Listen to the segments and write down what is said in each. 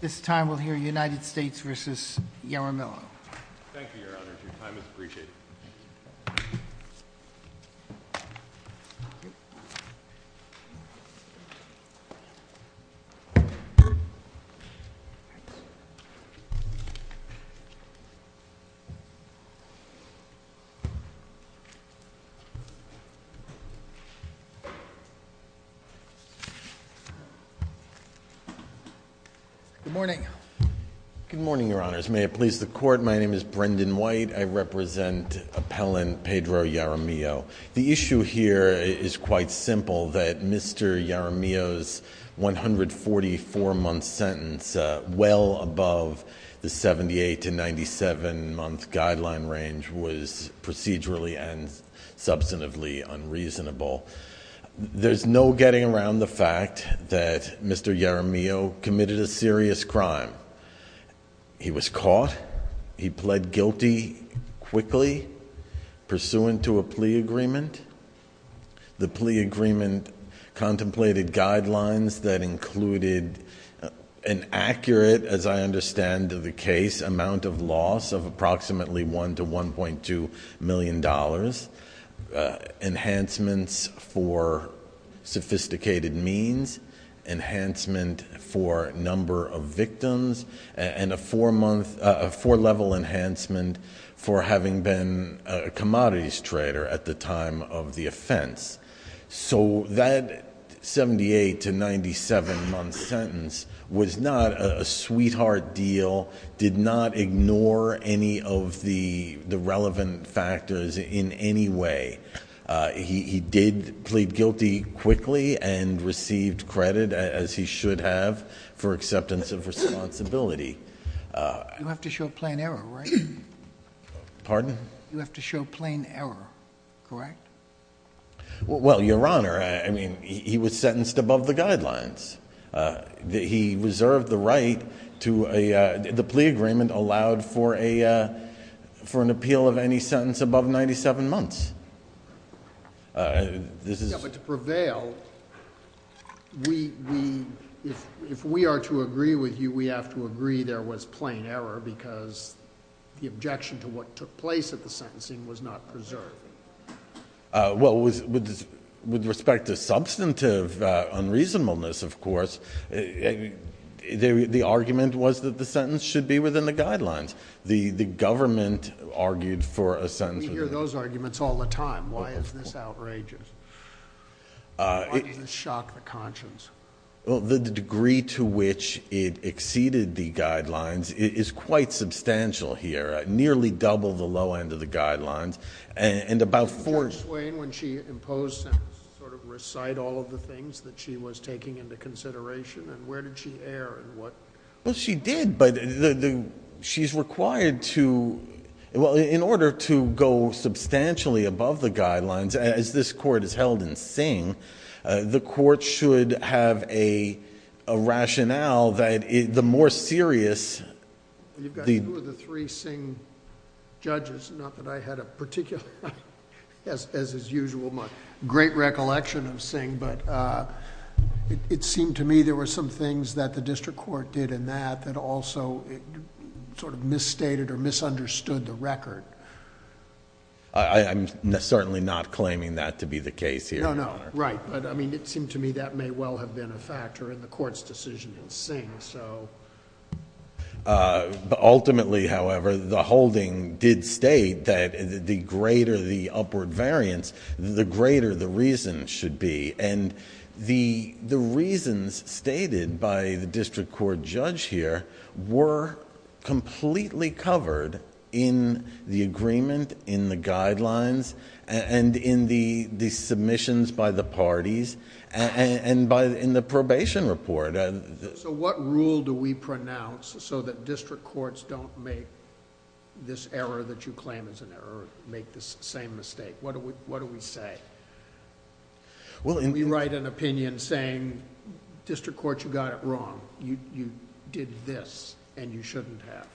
This time we'll hear United States v. Yamamillo. Thank you, your honor. Your time is appreciated. Good morning. Good morning, your honors. May it please the court, my name is Brendan White. I represent appellant Pedro Yaramillo. The issue here is quite simple, that Mr. Yaramillo's 144-month sentence, well above the 78- to 97-month guideline range, was procedurally and substantively unreasonable. There's no getting around the fact that Mr. Yaramillo committed a serious crime. He was caught. He pled guilty quickly, pursuant to a plea agreement. The plea agreement contemplated guidelines that included an accurate, as I understand the case, amount of loss of approximately $1 to $1.2 million, enhancements for sophisticated means, enhancement for number of victims, and a four-level enhancement for having been a commodities trader at the time of the offense. So that 78- to 97-month sentence was not a sweetheart deal, did not ignore any of the relevant factors in any way. He did plead guilty quickly and received credit, as he should have, for acceptance of responsibility. You have to show plain error, right? Pardon? You have to show plain error, correct? Well, your honor, I mean, he was sentenced above the guidelines. He reserved the right to the plea agreement allowed for an appeal of any sentence above 97 months. Yeah, but to prevail, if we are to agree with you, we have to agree there was plain error because the objection to what took place at the sentencing was not preserved. Well, with respect to substantive unreasonableness, of course, the argument was that the sentence should be within the guidelines. The government argued for a sentence. We hear those arguments all the time. Why is this outrageous? Why does this shock the conscience? Well, the degree to which it exceeded the guidelines is quite substantial here, nearly double the low end of the guidelines. Judge Swain, when she imposed sentencing, sort of recite all of the things that she was taking into consideration, and where did she err and what? Well, she did, but she's required to, well, in order to go substantially above the guidelines, as this court has held in Singh, the court should have a rationale that the more serious the... You've got two of the three Singh judges. Not that I had a particular... as is usual, my great recollection of Singh, but it seemed to me there were some things that the district court did in that that also sort of misstated or misunderstood the record. I'm certainly not claiming that to be the case here, Your Honor. No, no. Right, but I mean, it seemed to me that may well have been a factor in the court's decision in Singh. Ultimately, however, the holding did state that the greater the upward variance, the greater the reason should be, and the reasons stated by the district court judge here were completely covered in the agreement, in the guidelines, and in the submissions by the parties, and in the probation report. What rule do we pronounce so that district courts don't make this error that you claim is an error, make this same mistake? What do we say? We write an opinion saying, District Court, you got it wrong. You did this, and you shouldn't have.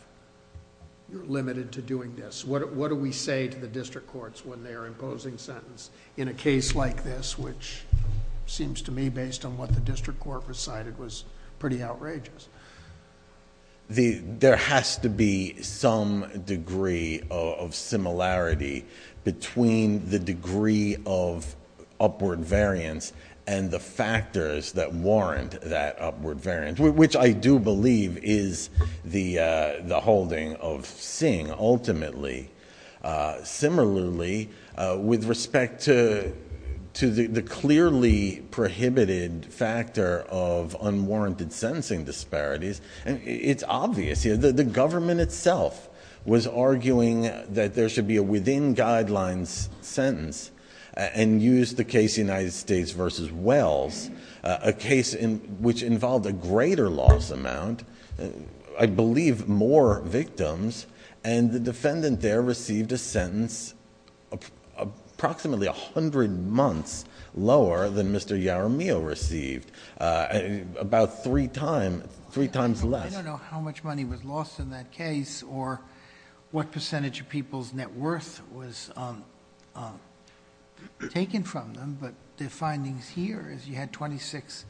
You're limited to doing this. What do we say to the district courts when they are imposing sentence in a case like this, which seems to me, based on what the district court recited, was pretty outrageous? There has to be some degree of similarity between the degree of upward variance and the factors that warrant that upward variance, which I do believe is the holding of Singh, ultimately. Similarly, with respect to the clearly prohibited factor of unwarranted sentencing disparities, it's obvious. The government itself was arguing that there should be a within guidelines sentence and used the case United States v. Wells, a case which involved a greater loss amount, I believe more victims, and the defendant there received a sentence approximately a hundred months lower than Mr. Yaramio received, about three times less. I don't know how much money was lost in that case or what percentage of people's net worth was taken from them, but the findings here is you had twenty-six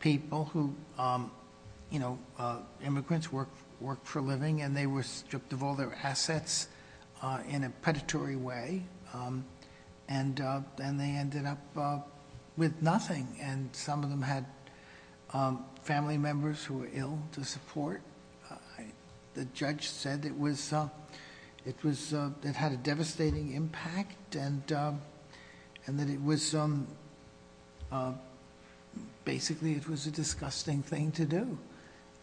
people who... stripped of all their assets in a predatory way, and they ended up with nothing, and some of them had family members who were ill to support. The judge said it had a devastating impact and that basically it was a disgusting thing to do,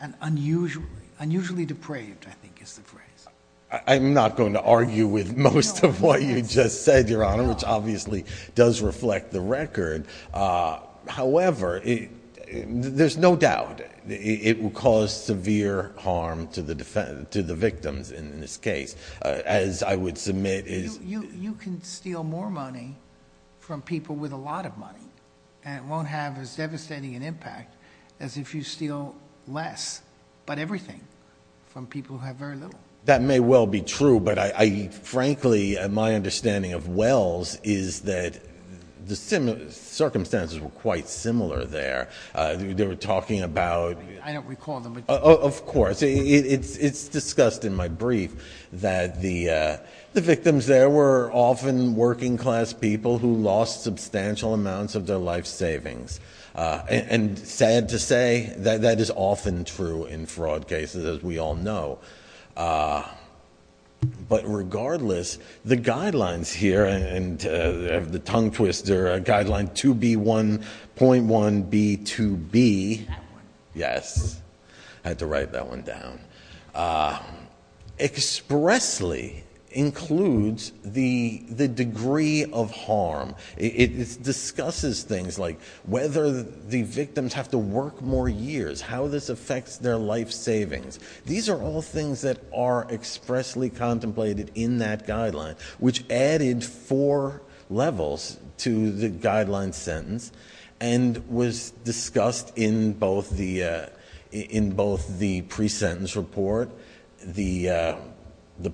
and unusually depraved, I think is the phrase. I'm not going to argue with most of what you just said, Your Honor, which obviously does reflect the record. However, there's no doubt it will cause severe harm to the victims in this case, as I would submit is... You can steal more money from people with a lot of money, and it won't have as devastating an impact as if you steal less, but everything, from people who have very little. That may well be true, but frankly, my understanding of Wells is that the circumstances were quite similar there. They were talking about... I don't recall them, but... Of course. It's discussed in my brief that the victims there were often working-class people who lost substantial amounts of their life savings. And sad to say, that is often true in fraud cases, as we all know. But regardless, the guidelines here, and the tongue twister, Guideline 2B1.1B2B... That one. Yes. I had to write that one down. Expressly includes the degree of harm. It discusses things like whether the victims have to work more years, how this affects their life savings. These are all things that are expressly contemplated in that guideline, which added four levels to the guideline sentence, and was discussed in both the pre-sentence report, the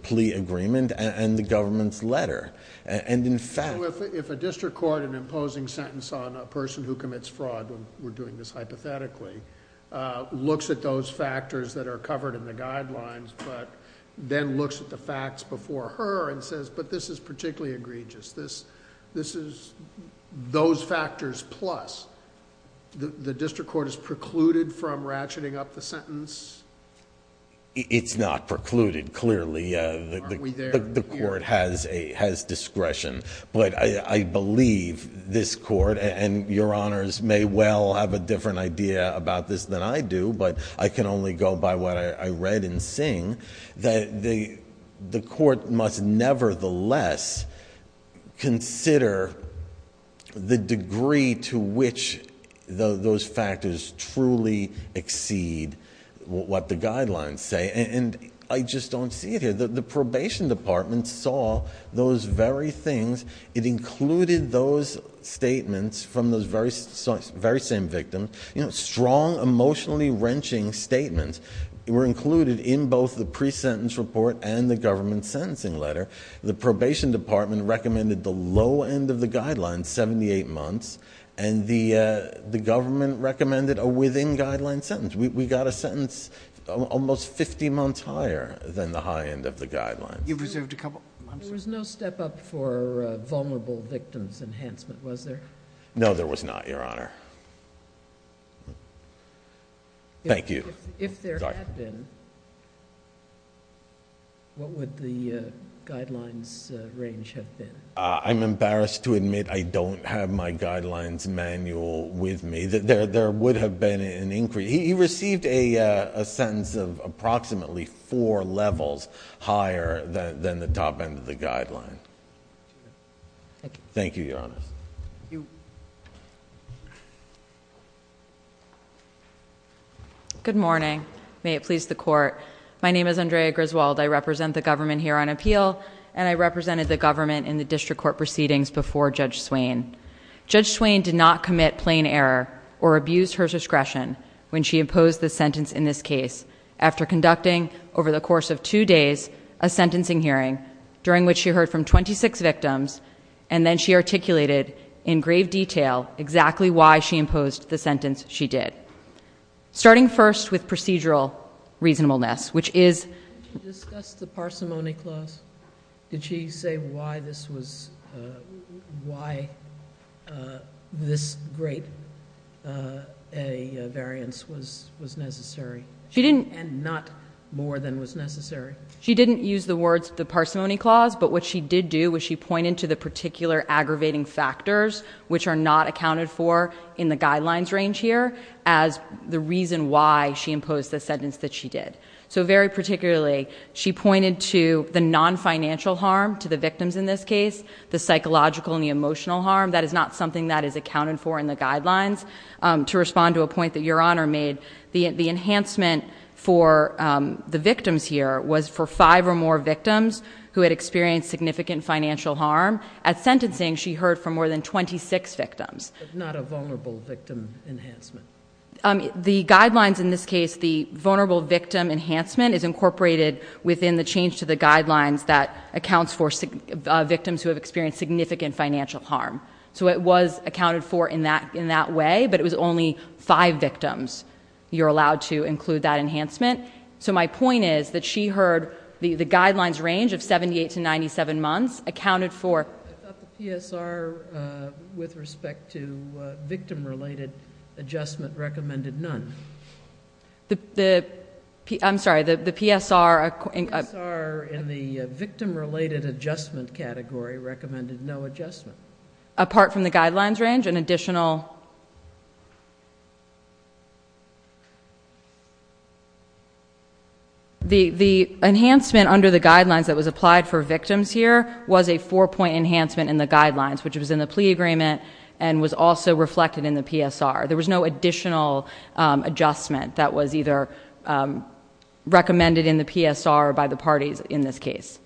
plea agreement, and the government's letter. In fact... If a district court, in imposing sentence on a person who commits fraud, we're doing this hypothetically, looks at those factors that are covered in the guidelines, but then looks at the facts before her and says, but this is particularly egregious. This is... Those factors plus. The district court is precluded from ratcheting up the sentence? It's not precluded, clearly. Aren't we there? The court has discretion, but I believe this court, and Your Honors may well have a different idea about this than I do, but I can only go by what I read and seen, that the court must nevertheless consider the degree to which those factors truly exceed what the guidelines say, and I just don't see it here. The probation department saw those very things. It included those statements from those very same victims, strong, emotionally-wrenching statements. They were included in both the pre-sentence report and the government sentencing letter. The probation department recommended the low end of the guidelines, seventy-eight months, and the government recommended a within-guideline sentence. We got a sentence almost fifty months higher than the high end of the guidelines. You preserved a couple... There was no step up for vulnerable victims enhancement, was there? No, there was not, Your Honor. Thank you. If there had been, what would the guidelines range have been? I'm embarrassed to admit I don't have my guidelines manual with me. There would have been an increase. He received a sentence of approximately four levels higher than the top end of the guideline. Thank you, Your Honors. Ms. Griswold. Good morning. May it please the Court. My name is Andrea Griswold. I represent the government here on appeal, and I represented the government in the district court proceedings before Judge Swain. Judge Swain did not commit plain error or abuse her discretion when she imposed the sentence in this case. After conducting, over the course of two days, a sentencing hearing, during which she heard from twenty-six victims, and then she articulated in grave detail exactly why she imposed the sentence she did, starting first with procedural reasonableness, which is... Did she discuss the parsimony clause? Did she say why this was, why this great a variance was necessary and not more than was necessary? She didn't use the words the parsimony clause, but what she did do was she pointed to the particular aggravating factors, which are not accounted for in the guidelines range here, as the reason why she imposed the sentence that she did. So very particularly, she pointed to the non-financial harm to the victims in this case, the psychological and the emotional harm. That is not something that is accounted for in the guidelines. To respond to a point that Your Honor made, the enhancement for the victims here was for five or more victims who had experienced significant financial harm. At sentencing, she heard from more than twenty-six victims. But not a vulnerable victim enhancement? The guidelines in this case, the vulnerable victim enhancement, is incorporated within the change to the guidelines that accounts for victims who have experienced significant financial harm. So it was accounted for in that way, but it was only five victims you're allowed to include that enhancement. So my point is that she heard the guidelines range of seventy-eight to ninety-seven months accounted for... The PSR with respect to victim-related adjustment recommended none. I'm sorry, the PSR... The PSR in the victim-related adjustment category recommended no adjustment. Apart from the guidelines range, an additional... The enhancement under the guidelines that was applied for victims here was a four-point enhancement in the guidelines, which was in the plea agreement and was also reflected in the PSR. There was no additional adjustment that was either recommended in the PSR or by the parties in this case.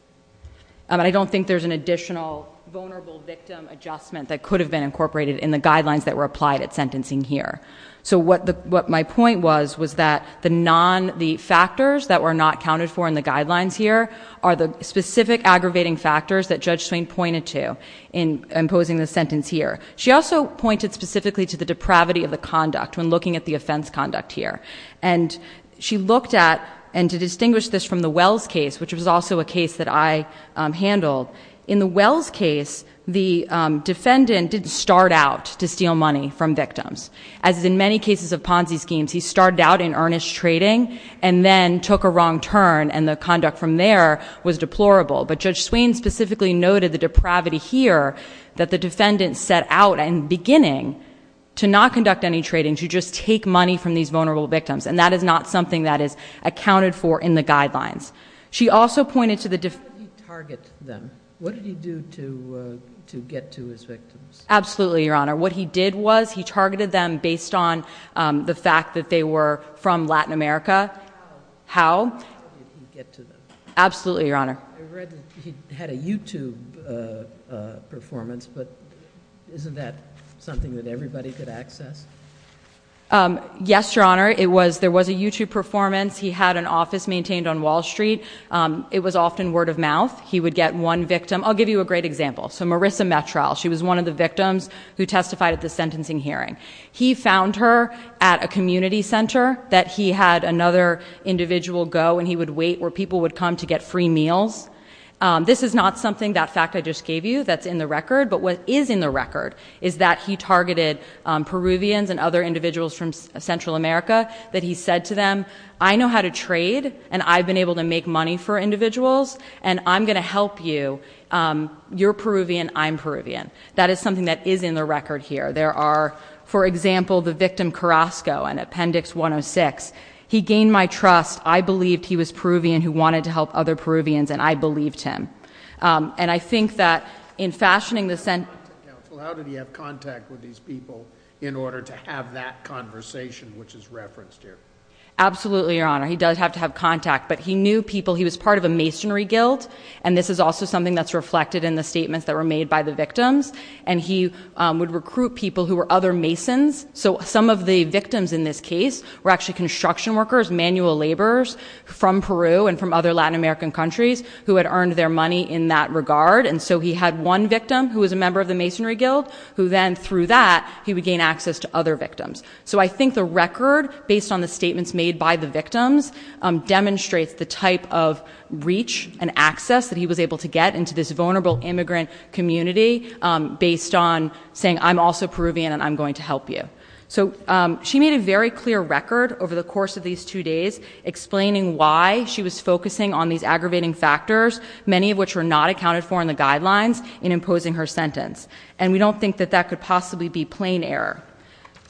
I don't think there's an additional vulnerable victim adjustment that could have been incorporated in the guidelines that were applied at sentencing here. So what my point was, was that the factors that were not counted for in the guidelines here are the specific aggravating factors that Judge Swain pointed to in imposing the sentence here. She also pointed specifically to the depravity of the conduct when looking at the offense conduct here. And she looked at... And to distinguish this from the Wells case, which was also a case that I handled, in the Wells case, the defendant didn't start out to steal money from victims. As in many cases of Ponzi schemes, he started out in earnest trading and then took a wrong turn and the conduct from there was deplorable. But Judge Swain specifically noted the depravity here that the defendant set out and beginning to not conduct any trading, to just take money from these vulnerable victims. And that is not something that is accounted for in the guidelines. She also pointed to the... What did he target them? What did he do to get to his victims? Absolutely, Your Honor. What he did was he targeted them based on the fact that they were from Latin America. How? How did he get to them? Absolutely, Your Honor. I read that he had a YouTube performance, but isn't that something that everybody could access? Yes, Your Honor. There was a YouTube performance. He had an office maintained on Wall Street. It was often word of mouth. He would get one victim. I'll give you a great example. So Marissa Metrel, she was one of the victims who testified at the sentencing hearing. He found her at a community center that he had another individual go, and he would wait where people would come to get free meals. This is not something, that fact I just gave you, that's in the record. But what is in the record is that he targeted Peruvians and other individuals from Central America, that he said to them, I know how to trade, and I've been able to make money for individuals, and I'm going to help you. You're Peruvian. I'm Peruvian. That is something that is in the record here. There are, for example, the victim Carrasco in Appendix 106. He gained my trust. I believed he was Peruvian who wanted to help other Peruvians, and I believed him. And I think that in fashioning the sentence. How did he have contact with these people in order to have that conversation, which is referenced here? Absolutely, Your Honor. He does have to have contact. But he knew people. He was part of a masonry guild, and this is also something that's reflected in the statements that were made by the victims. And he would recruit people who were other masons. So some of the victims in this case were actually construction workers, manual laborers from Peru and from other Latin American countries who had earned their money in that regard. And so he had one victim who was a member of the masonry guild, who then through that he would gain access to other victims. So I think the record based on the statements made by the victims demonstrates the type of reach and access that he was able to get into this vulnerable immigrant community based on saying, I'm also Peruvian and I'm going to help you. So she made a very clear record over the course of these two days explaining why she was focusing on these aggravating factors, many of which were not accounted for in the guidelines, in imposing her sentence. And we don't think that that could possibly be plain error.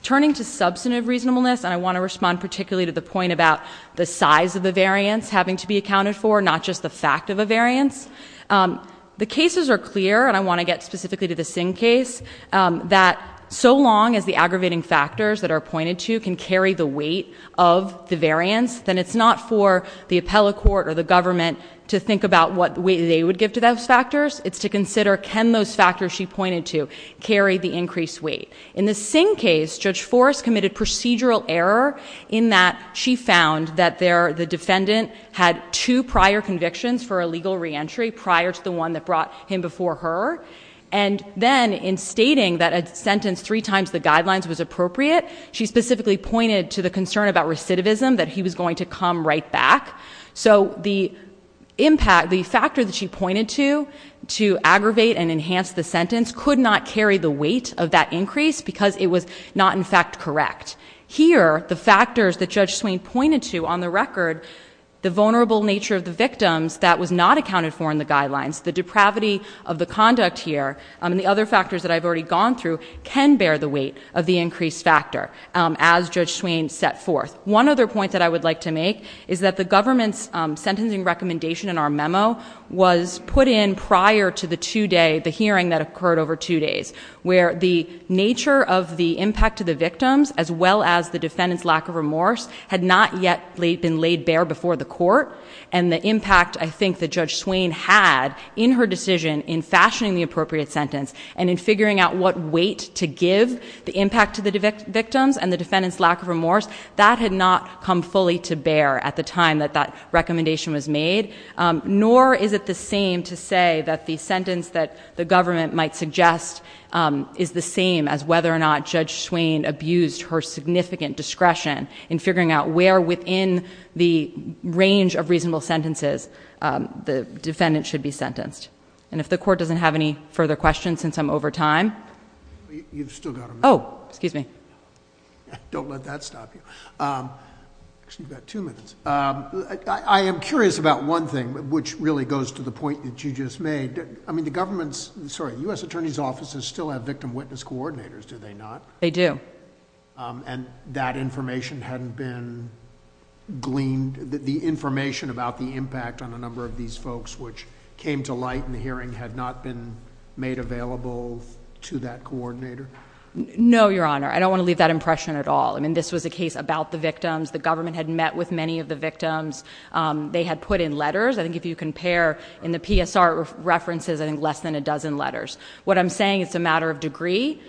Turning to substantive reasonableness, and I want to respond particularly to the point about the size of the variance having to be accounted for, not just the fact of a variance. The cases are clear, and I want to get specifically to the Singh case, that so long as the aggravating factors that are pointed to can carry the weight of the variance, then it's not for the appellate court or the government to think about what weight they would give to those factors. It's to consider can those factors she pointed to carry the increased weight. In the Singh case, Judge Forrest committed procedural error in that she found that the defendant had two prior convictions for illegal reentry prior to the one that brought him before her. And then in stating that a sentence three times the guidelines was appropriate, she specifically pointed to the concern about recidivism, that he was going to come right back. So the factor that she pointed to to aggravate and enhance the sentence could not carry the weight of that increase because it was not, in fact, correct. Here, the factors that Judge Swain pointed to on the record, the vulnerable nature of the victims that was not accounted for in the guidelines, the depravity of the conduct here, and the other factors that I've already gone through can bear the weight of the increased factor as Judge Swain set forth. One other point that I would like to make is that the government's sentencing recommendation in our memo was put in prior to the hearing that occurred over two days where the nature of the impact to the victims as well as the defendant's lack of remorse had not yet been laid bare before the court. And the impact, I think, that Judge Swain had in her decision in fashioning the appropriate sentence and in figuring out what weight to give the impact to the victims and the defendant's lack of remorse, that had not come fully to bear at the time that that recommendation was made, nor is it the same to say that the sentence that the government might suggest is the same as whether or not Judge Swain abused her significant discretion in figuring out where within the range of reasonable sentences the defendant should be sentenced. And if the court doesn't have any further questions since I'm over time... You've still got a minute. Oh, excuse me. Don't let that stop you. Actually, you've got two minutes. I am curious about one thing, which really goes to the point that you just made. I mean, the government's... Sorry, U.S. Attorney's offices still have victim witness coordinators, do they not? They do. And that information hadn't been gleaned? The information about the impact on a number of these folks which came to light in the hearing had not been made available to that coordinator? No, Your Honor. I don't want to leave that impression at all. I mean, this was a case about the victims. The government had met with many of the victims. They had put in letters. I think if you compare in the PSR references, I think less than a dozen letters. What I'm saying is it's a matter of degree.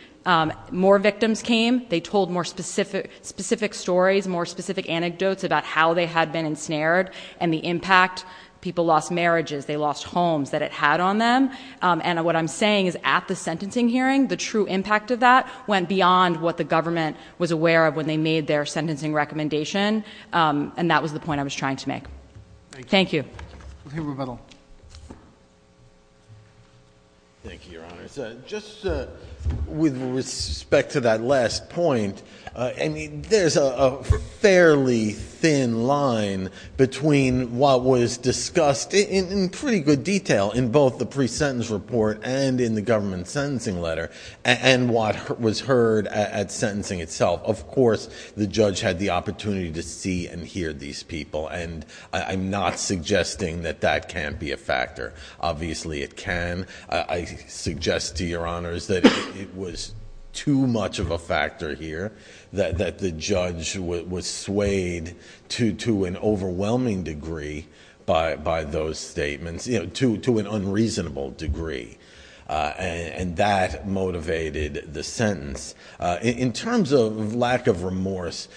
More victims came. They told more specific stories, more specific anecdotes about how they had been ensnared and the impact. People lost marriages. They lost homes that it had on them. And what I'm saying is at the sentencing hearing, the true impact of that went beyond what the government was aware of when they made their sentencing recommendation, and that was the point I was trying to make. Thank you. Thank you, Your Honor. Just with respect to that last point, there's a fairly thin line between what was discussed in pretty good detail in both the pre-sentence report and in the government sentencing letter and what was heard at sentencing itself. Of course, the judge had the opportunity to see and hear these people, and I'm not suggesting that that can't be a factor. Obviously, it can. I suggest to Your Honors that it was too much of a factor here, that the judge was swayed to an overwhelming degree by those statements, to an unreasonable degree, and that motivated the sentence. In terms of lack of remorse,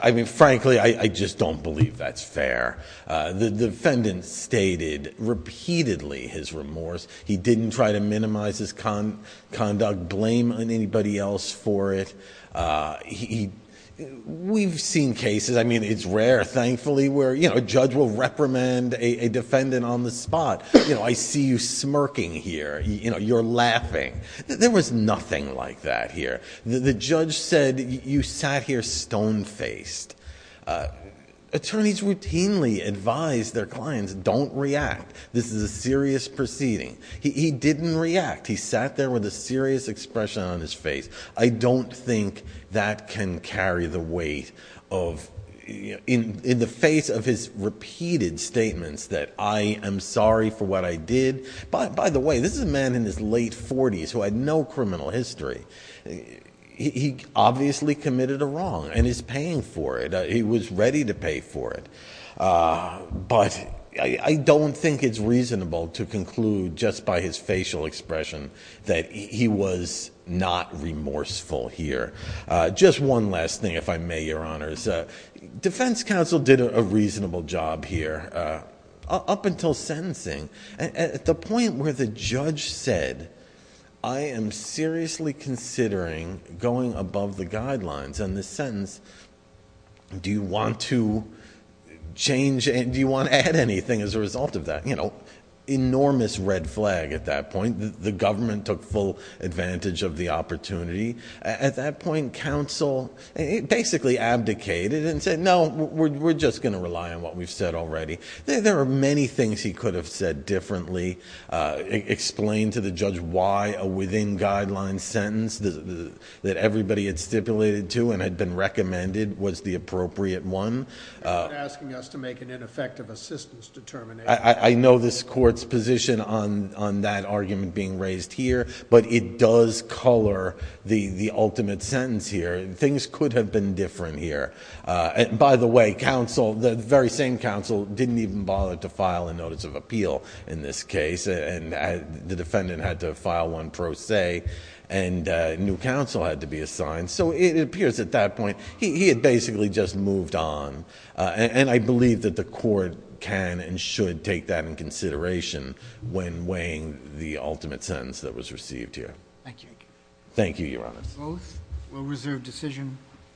I mean, frankly, I just don't believe that's fair. The defendant stated repeatedly his remorse. He didn't try to minimize his conduct, blame anybody else for it. We've seen cases, I mean, it's rare, thankfully, where a judge will reprimand a defendant on the spot. I see you smirking here. You're laughing. There was nothing like that here. The judge said you sat here stone-faced. Attorneys routinely advise their clients don't react. This is a serious proceeding. He didn't react. He sat there with a serious expression on his face. I don't think that can carry the weight of, in the face of his repeated statements that I am sorry for what I did. By the way, this is a man in his late 40s who had no criminal history. He obviously committed a wrong and is paying for it. He was ready to pay for it. But I don't think it's reasonable to conclude just by his facial expression that he was not remorseful here. Just one last thing, if I may, Your Honors. Defense counsel did a reasonable job here up until sentencing. At the point where the judge said, I am seriously considering going above the guidelines on this sentence, do you want to add anything as a result of that? Enormous red flag at that point. The government took full advantage of the opportunity. At that point, counsel basically abdicated and said, no, we're just going to rely on what we've said already. There are many things he could have said differently, explained to the judge why a within guidelines sentence that everybody had stipulated to and had been recommended was the appropriate one. You're asking us to make an ineffective assistance determination. I know this court's position on that argument being raised here, but it does color the ultimate sentence here. Things could have been different here. By the way, counsel, the very same counsel, didn't even bother to file a notice of appeal in this case. The defendant had to file one pro se and a new counsel had to be assigned. It appears at that point he had basically just moved on. I believe that the court can and should take that in consideration when weighing the ultimate sentence that was received here. Thank you, Your Honors. Both? We'll reserve decision.